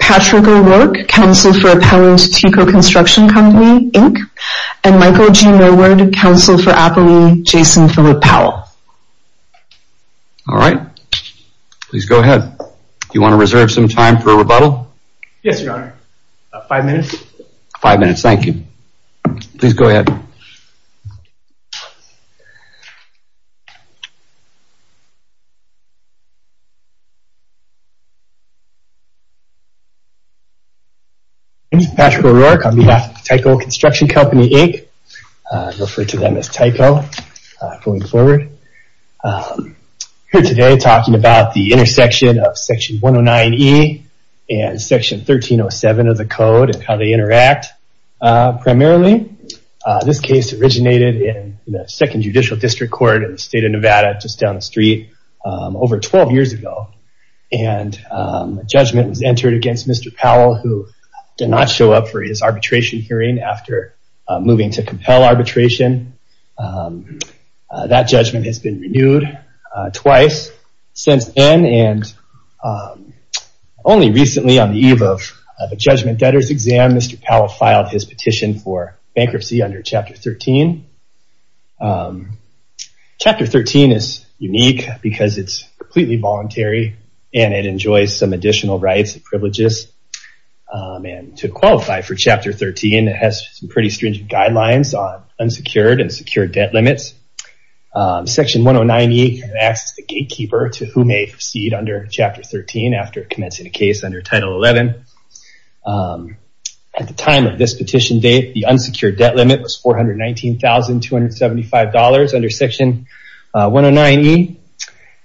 Patrick O'Rourke, Counsel for Appellant Tico Construction Company, Inc. And Michael G. Norwood, Counsel for Appellee Jason Philip Powell. All right. Please go ahead. Do you want to reserve some time for rebuttal? Yes, Your Honor. Five minutes. Five minutes, thank you. Please go ahead. My name is Patrick O'Rourke on behalf of Tico Construction Company, Inc. I refer to them as Tico going forward. I'm here today talking about the intersection of Section 109E and Section 1307 of the Code and how they interact primarily. This case originated in the 2nd Judicial District Court in the state of Nevada just down the street over 12 years ago. And a judgment was entered against Mr. Powell who did not show up for his arbitration hearing after moving to compel arbitration. That judgment has been renewed twice since then. And only recently on the eve of a judgment debtor's exam, Mr. Powell filed his petition for bankruptcy under Chapter 13. Chapter 13 is unique because it's completely voluntary and it enjoys some additional rights and privileges. And to qualify for Chapter 13, it has some pretty stringent guidelines on unsecured and secured debt limits. Section 109E acts as the gatekeeper to who may proceed under Chapter 13 after commencing a case under Title 11. At the time of this petition date, the unsecured debt limit was $419,275 under Section 109E.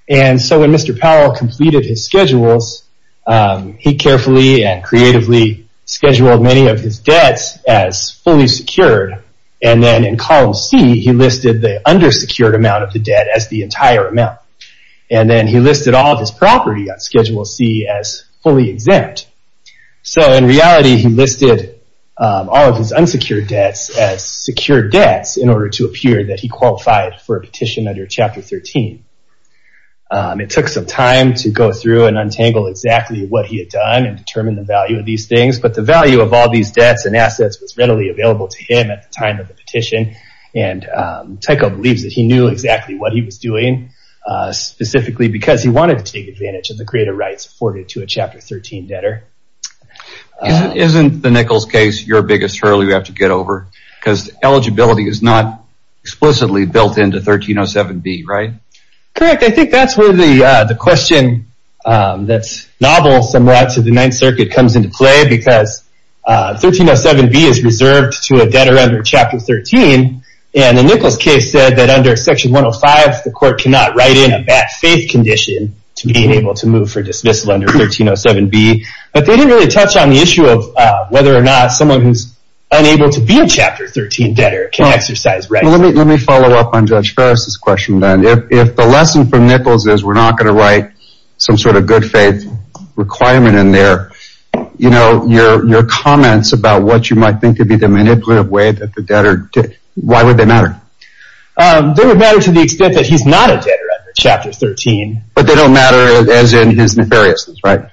And so when Mr. Powell completed his schedules, he carefully and creatively scheduled many of his debts as fully secured. And then in Column C, he listed the undersecured amount of the debt as the entire amount. And then he listed all of his property on Schedule C as fully exempt. So in reality, he listed all of his unsecured debts as secured debts in order to appear that he qualified for a petition under Chapter 13. It took some time to go through and untangle exactly what he had done and determine the value of these things. But the value of all these debts and assets was readily available to him at the time of the petition. And Tyco believes that he knew exactly what he was doing, specifically because he wanted to take advantage of the creative rights afforded to a Chapter 13 debtor. Isn't the Nichols case your biggest hurdle you have to get over? Because eligibility is not explicitly built into 1307B, right? Correct. I think that's where the question that's novel somewhat to the Ninth Circuit comes into play. Because 1307B is reserved to a debtor under Chapter 13. And the Nichols case said that under Section 105, the court cannot write in a bad faith condition to be able to move for dismissal under 1307B. But they didn't really touch on the issue of whether or not someone who's unable to be a Chapter 13 debtor can exercise rights. Let me follow up on Judge Ferris' question then. If the lesson from Nichols is we're not going to write some sort of good faith requirement in there, your comments about what you might think to be the manipulative way that the debtor did, why would they matter? They would matter to the extent that he's not a debtor under Chapter 13. But they don't matter as in his nefariousness, right?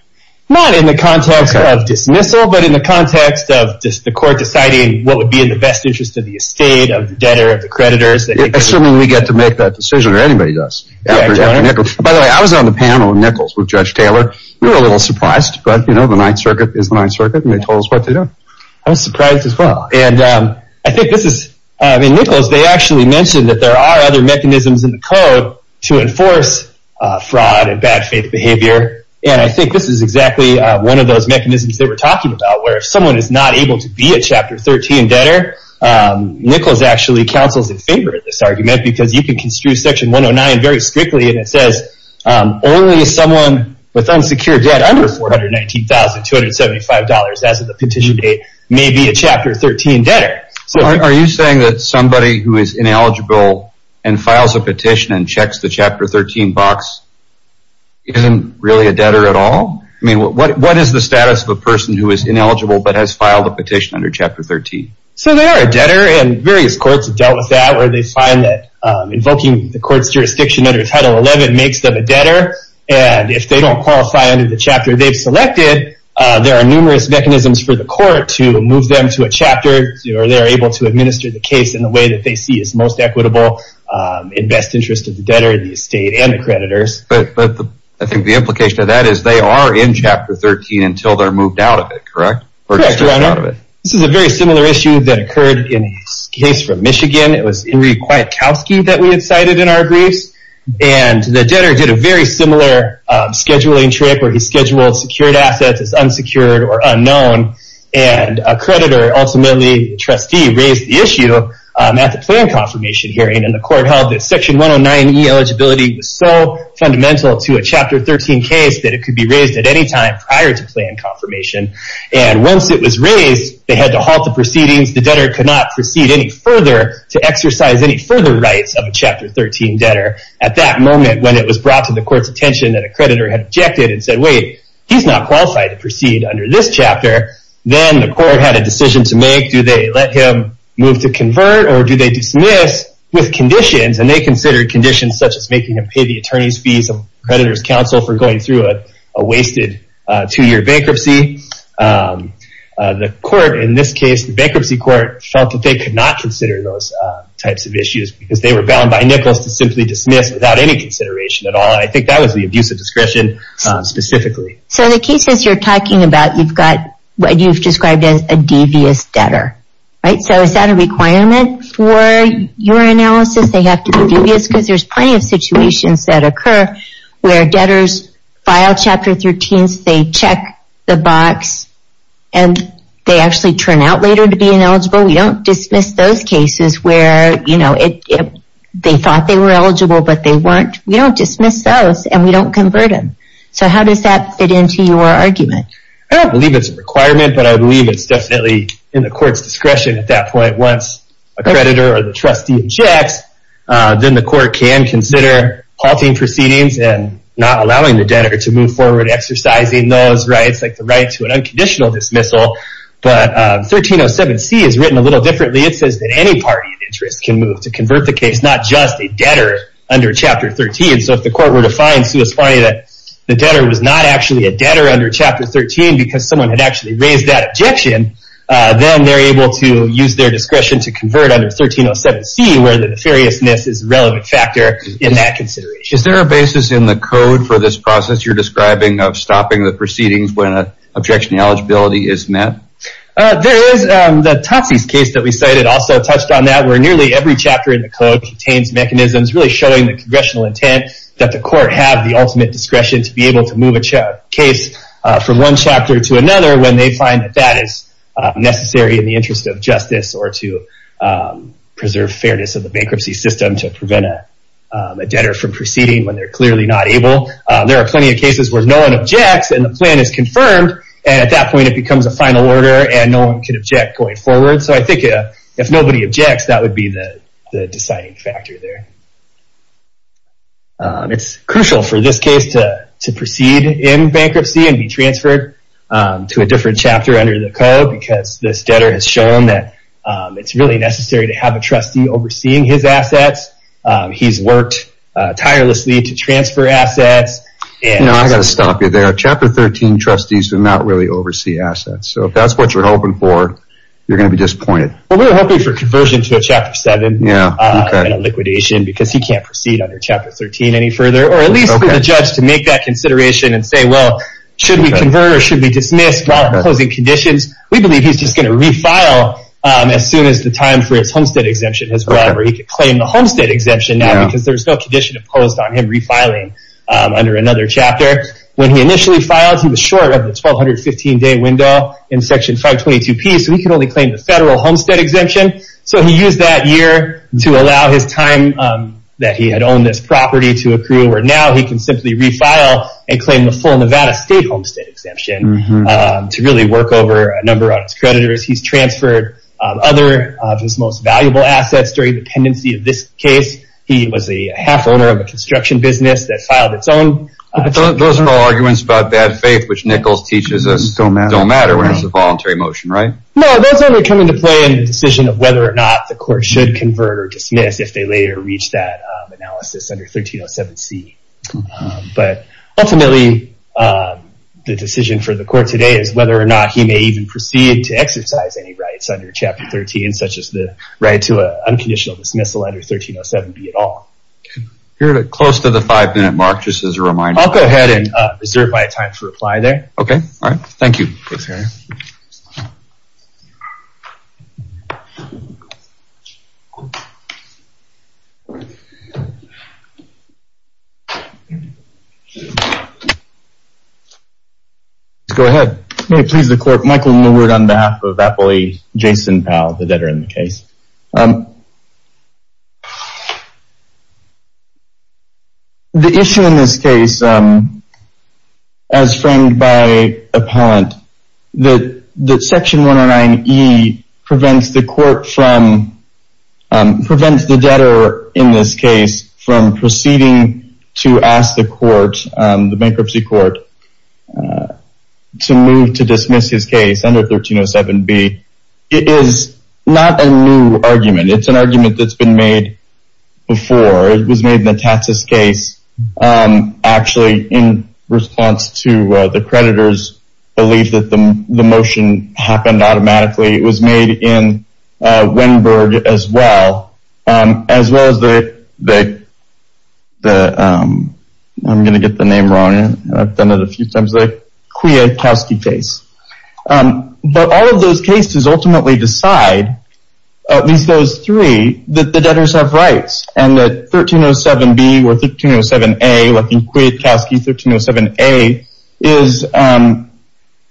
Not in the context of dismissal, but in the context of the court deciding what would be in the best interest of the estate, of the debtor, of the creditors. Assuming we get to make that decision, or anybody does. By the way, I was on the panel with Nichols with Judge Taylor. We were a little surprised, but you know, the Ninth Circuit is the Ninth Circuit, and they told us what to do. I was surprised as well. And I think this is, I mean, Nichols, they actually mentioned that there are other mechanisms in the code to enforce fraud and bad faith behavior. And I think this is exactly one of those mechanisms that we're talking about, where if someone is not able to be a Chapter 13 debtor, Nichols actually counsels in favor of this argument, because you can construe Section 109 very strictly, and it says, only someone with unsecured debt under $419,275 as of the petition date may be a Chapter 13 debtor. Are you saying that somebody who is ineligible and files a petition and checks the Chapter 13 box isn't really a debtor at all? I mean, what is the status of a person who is ineligible but has filed a petition under Chapter 13? So they are a debtor, and various courts have dealt with that, where they find that invoking the court's jurisdiction under Title 11 makes them a debtor. And if they don't qualify under the chapter they've selected, there are numerous mechanisms for the court to move them to a chapter, or they're able to administer the case in the way that they see is most equitable, in best interest of the debtor, the estate, and the creditors. But I think the implication of that is they are in Chapter 13 until they're moved out of it, correct? Correct, Your Honor. This is a very similar issue that occurred in a case from Michigan. It was Henry Kwiatkowski that we had cited in our briefs, and the debtor did a very similar scheduling trick where he scheduled secured assets as unsecured or unknown, and a creditor, ultimately a trustee, raised the issue at the plan confirmation hearing, and the court held that Section 109E eligibility was so fundamental to a Chapter 13 case that it could be raised at any time prior to plan confirmation. And once it was raised, they had to halt the proceedings. The debtor could not proceed any further to exercise any further rights of a Chapter 13 debtor. At that moment, when it was brought to the court's attention that a creditor had objected and said, wait, he's not qualified to proceed under this chapter, then the court had a decision to make. Do they let him move to convert, or do they dismiss with conditions? And they considered conditions such as making him pay the attorney's fees, a creditor's counsel for going through a wasted two-year bankruptcy. The court in this case, the bankruptcy court, felt that they could not consider those types of issues because they were bound by Nichols to simply dismiss without any consideration at all, and I think that was the abuse of discretion specifically. So the cases you're talking about, you've got what you've described as a devious debtor. So is that a requirement for your analysis, they have to be devious? Because there's plenty of situations that occur where debtors file Chapter 13s, they check the box, and they actually turn out later to be ineligible. We don't dismiss those cases where they thought they were eligible, but they weren't. We don't dismiss those, and we don't convert them. So how does that fit into your argument? I don't believe it's a requirement, but I believe it's definitely in the court's discretion at that point. Once a creditor or the trustee checks, then the court can consider halting proceedings and not allowing the debtor to move forward exercising those rights, like the right to an unconditional dismissal. But 1307C is written a little differently. It says that any party of interest can move to convert the case, not just a debtor under Chapter 13. So if the court were to find that the debtor was not actually a debtor under Chapter 13 because someone had actually raised that objection, then they're able to use their discretion to convert under 1307C, where the nefariousness is a relevant factor in that consideration. Is there a basis in the code for this process you're describing of stopping the proceedings when an objectionary eligibility is met? There is. The Totsies case that we cited also touched on that, where nearly every chapter in the code contains mechanisms really showing the congressional intent that the court have the ultimate discretion to be able to move a case from one chapter to another when they find that that is necessary in the interest of justice or to preserve fairness of the bankruptcy system to prevent a debtor from proceeding when they're clearly not able. There are plenty of cases where no one objects and the plan is confirmed, and at that point it becomes a final order and no one can object going forward. So I think if nobody objects, that would be the deciding factor there. It's crucial for this case to proceed in bankruptcy and be transferred to a different chapter under the code because this debtor has shown that it's really necessary to have a trustee overseeing his assets. He's worked tirelessly to transfer assets. I've got to stop you there. Chapter 13 trustees do not really oversee assets. So if that's what you're hoping for, you're going to be disappointed. We're hoping for conversion to a Chapter 7 and a liquidation because he can't proceed under Chapter 13 any further, or at least for the judge to make that consideration and say, well, should we convert or should we dismiss while imposing conditions? We believe he's just going to refile as soon as the time for his homestead exemption has run, or he can claim the homestead exemption now because there's no condition imposed on him refiling under another chapter. When he initially filed, he was short of the 1,215-day window in Section 522P, so he could only claim the federal homestead exemption. So he used that year to allow his time that he had owned this property to accrue, where now he can simply refile and claim the full Nevada state homestead exemption to really work over a number of creditors. He's transferred other of his most valuable assets during the pendency of this case. He was a half-owner of a construction business that filed its own. Those are all arguments about bad faith, which Nichols teaches us don't matter when it's a voluntary motion, right? No, those only come into play in the decision of whether or not the court should convert or dismiss if they later reach that analysis under 1307C. But ultimately, the decision for the court today is whether or not he may even proceed to exercise any rights under Chapter 13, such as the right to unconditional dismissal under 1307B at all. You're close to the five-minute mark, just as a reminder. I'll go ahead and reserve my time to reply there. Okay. All right. Thank you. Thanks, Harry. Go ahead. May it please the court. Michael Millward on behalf of employee Jason Powell, the debtor in the case. The issue in this case, as framed by appellant, that Section 109E prevents the debtor in this case from proceeding to ask the bankruptcy court to move to dismiss his case under 1307B is not a new argument. It's an argument that's been made before. It was made in the Tatsis case. Actually, in response to the creditor's belief that the motion happened automatically, it was made in Wenberg as well, as well as the—I'm going to get the name wrong. I've done it a few times—the Kwiatkowski case. But all of those cases ultimately decide, at least those three, that the debtors have rights, and that 1307B or 1307A, like in Kwiatkowski, 1307A,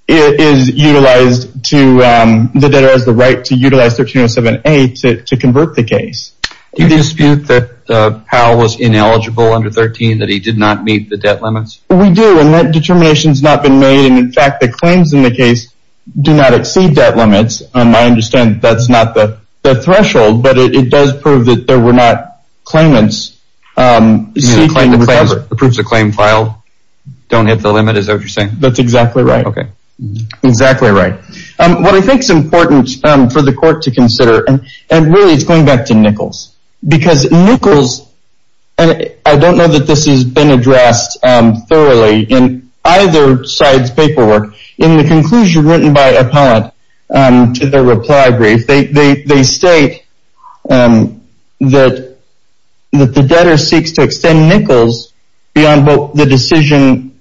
is utilized to— the debtor has the right to utilize 1307A to convert the case. Do you dispute that Powell was ineligible under 13, that he did not meet the debt limits? We do, and that determination has not been made. And, in fact, the claims in the case do not exceed debt limits. I understand that's not the threshold, but it does prove that there were not claimants seeking recovery. You mean the proofs of claim filed don't hit the limit? Is that what you're saying? That's exactly right. Okay. Exactly right. What I think is important for the court to consider, and really it's going back to Nichols, because Nichols—and I don't know that this has been addressed thoroughly in either side's paperwork. In the conclusion written by Appellant to their reply brief, they state that the debtor seeks to extend Nichols beyond the decision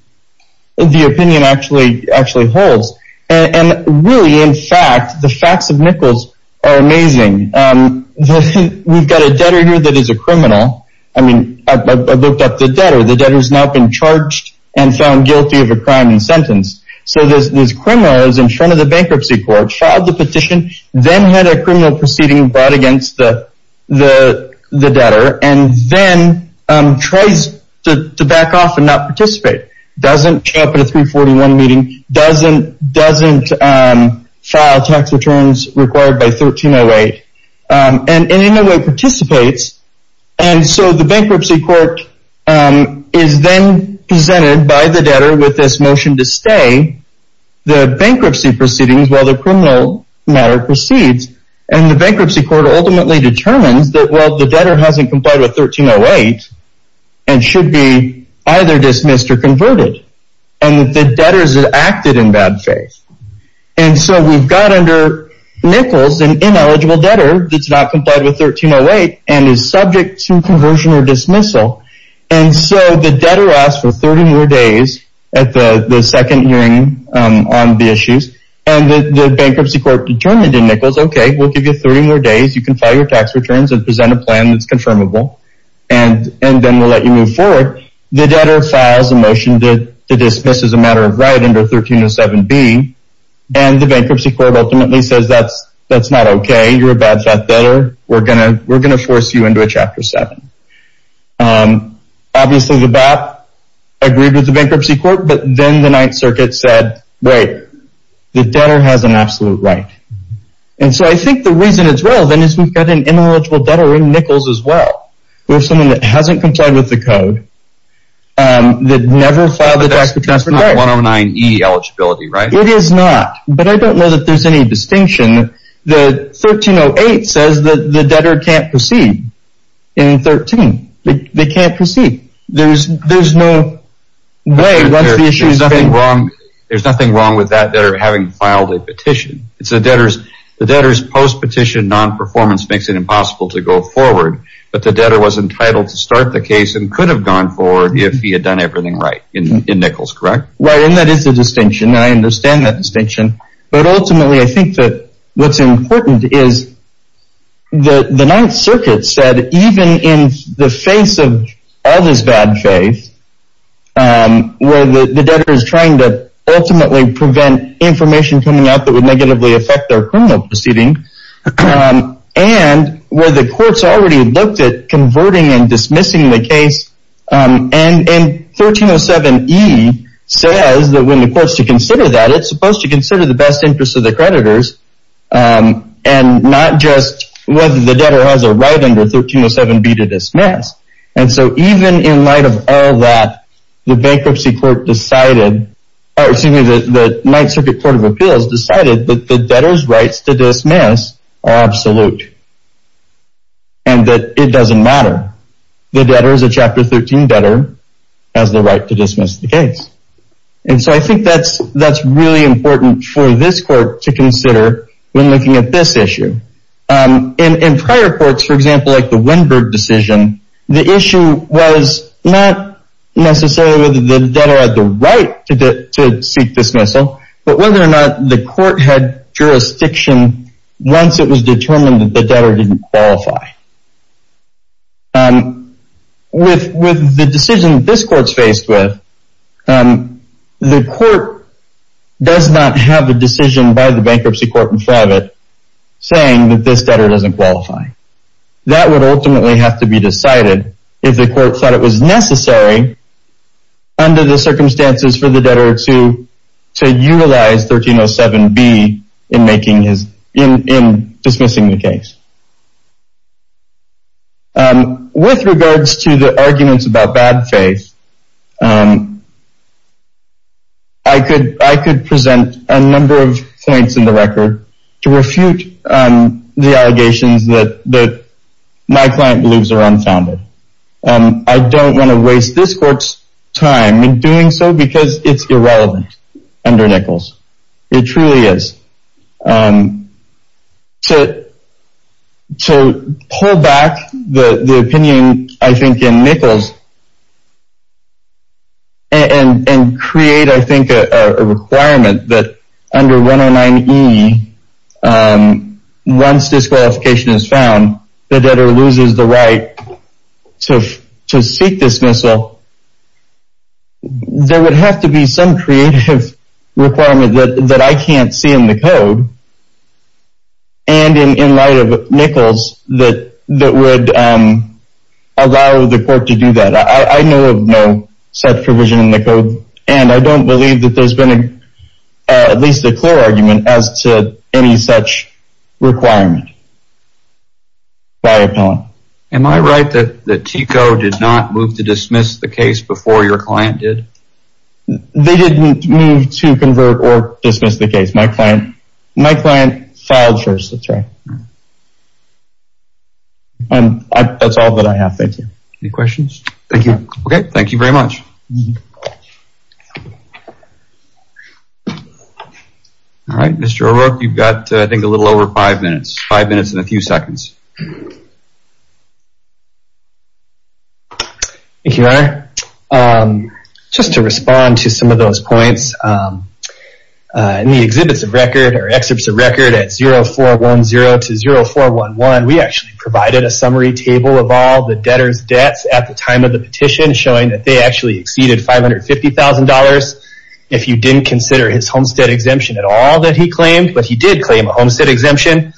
the opinion actually holds. And, really, in fact, the facts of Nichols are amazing. We've got a debtor here that is a criminal. I mean, I looked up the debtor. The debtor's now been charged and found guilty of a crime and sentenced. So this criminal is in front of the bankruptcy court, filed the petition, then had a criminal proceeding brought against the debtor, and then tries to back off and not participate. Doesn't show up at a 341 meeting, doesn't file tax returns required by 1308, and in a way participates. And so the bankruptcy court is then presented by the debtor with this motion to stay the bankruptcy proceedings while the criminal matter proceeds. And the bankruptcy court ultimately determines that while the debtor hasn't complied with 1308 and should be either dismissed or converted, and that the debtor has acted in bad faith. And so we've got under Nichols an ineligible debtor that's not complied with 1308 and is subject to conversion or dismissal. And so the debtor asks for 30 more days at the second hearing on the issues. And the bankruptcy court determined in Nichols, okay, we'll give you 30 more days. You can file your tax returns and present a plan that's confirmable. And then we'll let you move forward. The debtor files a motion to dismiss as a matter of right under 1307B. And the bankruptcy court ultimately says that's not okay. You're a bad fat debtor. We're going to force you into a Chapter 7. Obviously, the BAP agreed with the bankruptcy court. But then the Ninth Circuit said, wait, the debtor has an absolute right. And so I think the reason as well, then, is we've got an ineligible debtor in Nichols as well who is someone that hasn't complied with the code, that never filed a tax return. But that's not 109E eligibility, right? It is not. But I don't know that there's any distinction. The 1308 says that the debtor can't proceed in 13. They can't proceed. There's no way. There's nothing wrong with that debtor having filed a petition. It's the debtor's post-petition non-performance makes it impossible to go forward. But the debtor was entitled to start the case and could have gone forward if he had done everything right in Nichols, correct? Right, and that is the distinction, and I understand that distinction. But ultimately, I think that what's important is the Ninth Circuit said, even in the face of all this bad faith, where the debtor is trying to ultimately prevent information coming out that would negatively affect their criminal proceeding, and where the courts already looked at converting and dismissing the case, and 1307E says that when the courts should consider that, it's supposed to consider the best interest of the creditors and not just whether the debtor has a right under 1307B to dismiss. And so even in light of all that, the Ninth Circuit Court of Appeals decided that the debtor's rights to dismiss are absolute. And that it doesn't matter. The debtor is a Chapter 13 debtor, has the right to dismiss the case. And so I think that's really important for this court to consider when looking at this issue. In prior courts, for example, like the Winberg decision, the issue was not necessarily whether the debtor had the right to seek dismissal, but whether or not the court had jurisdiction once it was determined that the debtor didn't qualify. With the decision that this court's faced with, the court does not have a decision by the bankruptcy court in front of it saying that this debtor doesn't qualify. That would ultimately have to be decided if the court thought it was necessary, under the circumstances for the debtor to utilize 1307B in dismissing the case. With regards to the arguments about bad faith, I could present a number of points in the record to refute the allegations that my client believes are unfounded. I don't want to waste this court's time in doing so because it's irrelevant under Nichols. It truly is. To pull back the opinion, I think, in Nichols and create, I think, a requirement that under 109E, once disqualification is found, the debtor loses the right to seek dismissal, there would have to be some creative requirement that I can't see in the code and in light of Nichols that would allow the court to do that. I know of no such provision in the code, and I don't believe that there's been at least a clear argument as to any such requirement. Sorry. Am I right that TECO did not move to dismiss the case before your client did? They didn't move to convert or dismiss the case. My client filed first. That's right. That's all that I have. Thank you. Any questions? Thank you. Okay. Thank you very much. Thank you. All right. Mr. O'Rourke, you've got, I think, a little over five minutes. Five minutes and a few seconds. Thank you, Your Honor. Just to respond to some of those points, in the exhibits of record at 0410 to 0411, we actually provided a summary table of all the debtor's debts at the time of the petition showing that they actually exceeded $550,000 if you didn't consider his homestead exemption at all that he claimed. But he did claim a homestead exemption,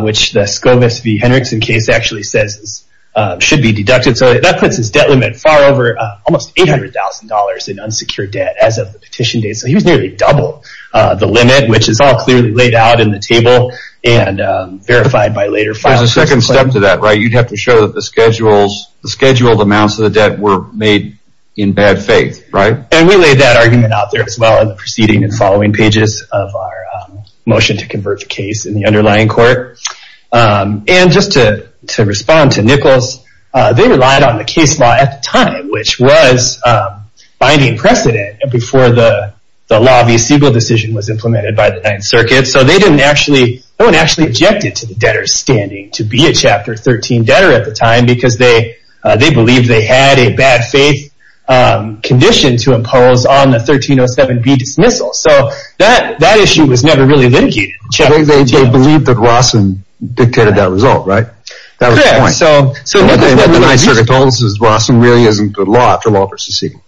which the Scovis v. Henriksen case actually says should be deducted. So that puts his debt limit far over almost $800,000 in unsecured debt as of the petition date. So he was nearly double the limit, which is all clearly laid out in the table and verified by later files. There's a second step to that, right? You'd have to show that the scheduled amounts of the debt were made in bad faith, right? And we laid that argument out there as well in the preceding and following pages of our motion to convert the case in the underlying court. And just to respond to Nichols, they relied on the case law at the time, which was binding precedent before the law v. Siegel decision was implemented by the Ninth Circuit. So no one actually objected to the debtor standing to be a Chapter 13 debtor at the time because they believed they had a bad faith condition to impose on the 1307B dismissal. So that issue was never really litigated in Chapter 13. They believed that Rawson dictated that result, right? Correct. So what the Ninth Circuit told us is Rawson really isn't good law after law v. Siegel.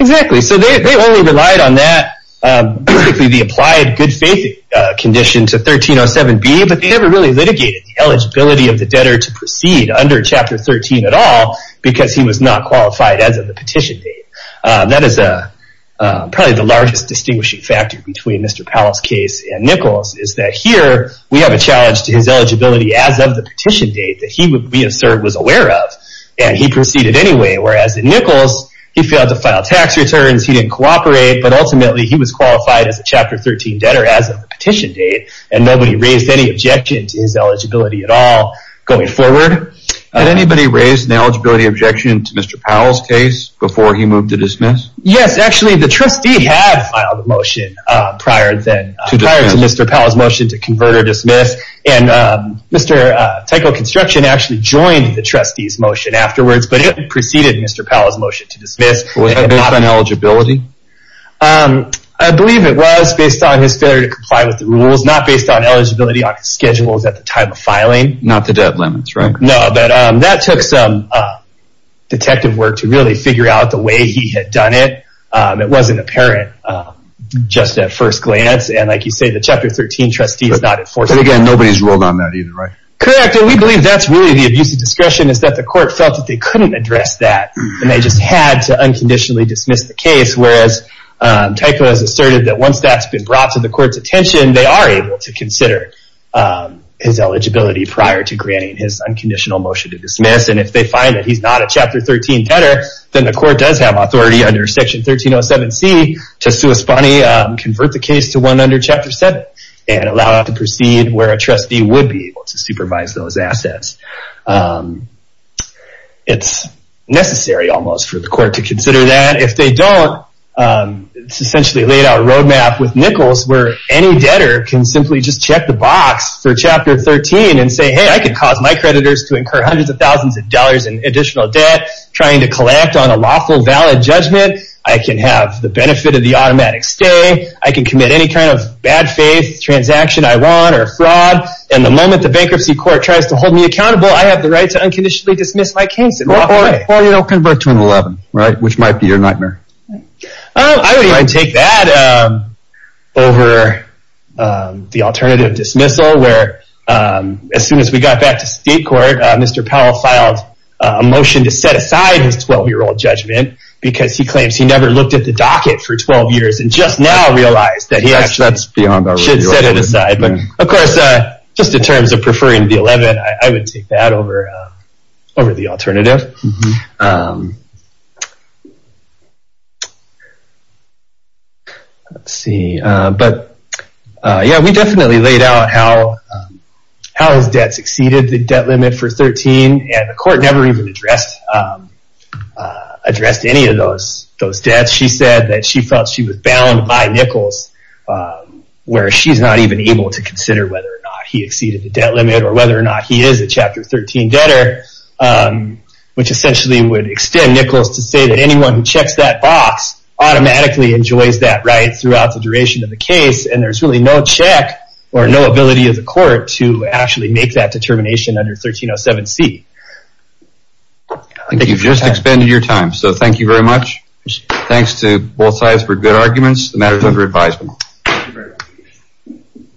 Exactly. So they only relied on that, the applied good faith condition to 1307B, but they never really litigated the eligibility of the debtor to proceed under Chapter 13 at all because he was not qualified as of the petition date. That is probably the largest distinguishing factor between Mr. Powell's case and Nichols' is that here we have a challenge to his eligibility as of the petition date that he, we assert, was aware of, and he proceeded anyway. Whereas in Nichols, he failed to file tax returns, he didn't cooperate, but ultimately he was qualified as a Chapter 13 debtor as of the petition date, and nobody raised any objection to his eligibility at all going forward. Had anybody raised an eligibility objection to Mr. Powell's case before he moved to dismiss? Yes, actually the trustee had filed a motion prior to Mr. Powell's motion to convert or dismiss, and Mr. Tyco Construction actually joined the trustee's motion afterwards, but it preceded Mr. Powell's motion to dismiss. Was that based on eligibility? I believe it was based on his failure to comply with the rules, not based on eligibility on schedules at the time of filing. Not the debt limits, right? No, but that took some detective work to really figure out the way he had done it. It wasn't apparent just at first glance, and like you say, the Chapter 13 trustee is not enforceable. But again, nobody's ruled on that either, right? Correct, and we believe that's really the abuse of discretion, is that the court felt that they couldn't address that, and they just had to unconditionally dismiss the case, whereas Tyco has asserted that once that's been brought to the court's attention, they are able to consider his eligibility prior to granting his unconditional motion to dismiss, and if they find that he's not a Chapter 13 debtor, then the court does have authority under Section 1307C to sui spani, convert the case to one under Chapter 7, and allow it to proceed where a trustee would be able to supervise those assets. It's necessary almost for the court to consider that. If they don't, it's essentially laid out a roadmap with Nichols where any debtor can simply just check the box for Chapter 13 and say, hey, I can cause my creditors to incur hundreds of thousands of dollars in additional debt, trying to collect on a lawful valid judgment. I can have the benefit of the automatic stay. I can commit any kind of bad faith transaction I want or a fraud, and the moment the bankruptcy court tries to hold me accountable, I have the right to unconditionally dismiss my case. Or convert to an 11, which might be your nightmare. I would even take that over the alternative dismissal, where as soon as we got back to state court, Mr. Powell filed a motion to set aside his 12-year-old judgment because he claims he never looked at the docket for 12 years, and just now realized that he actually should set it aside. Of course, just in terms of preferring the 11, I would take that over the alternative. Let's see. Yeah, we definitely laid out how his debt succeeded the debt limit for 13, and the court never even addressed any of those debts. She said that she felt she was bound by Nichols, where she's not even able to consider whether or not he exceeded the debt limit, or whether or not he is a Chapter 13 debtor, which essentially would extend Nichols to say that anyone who checks that box automatically enjoys that right throughout the duration of the case, and there's really no check or no ability of the court to actually make that determination under 1307C. I think you've just expended your time, so thank you very much. Thanks to both sides for good arguments.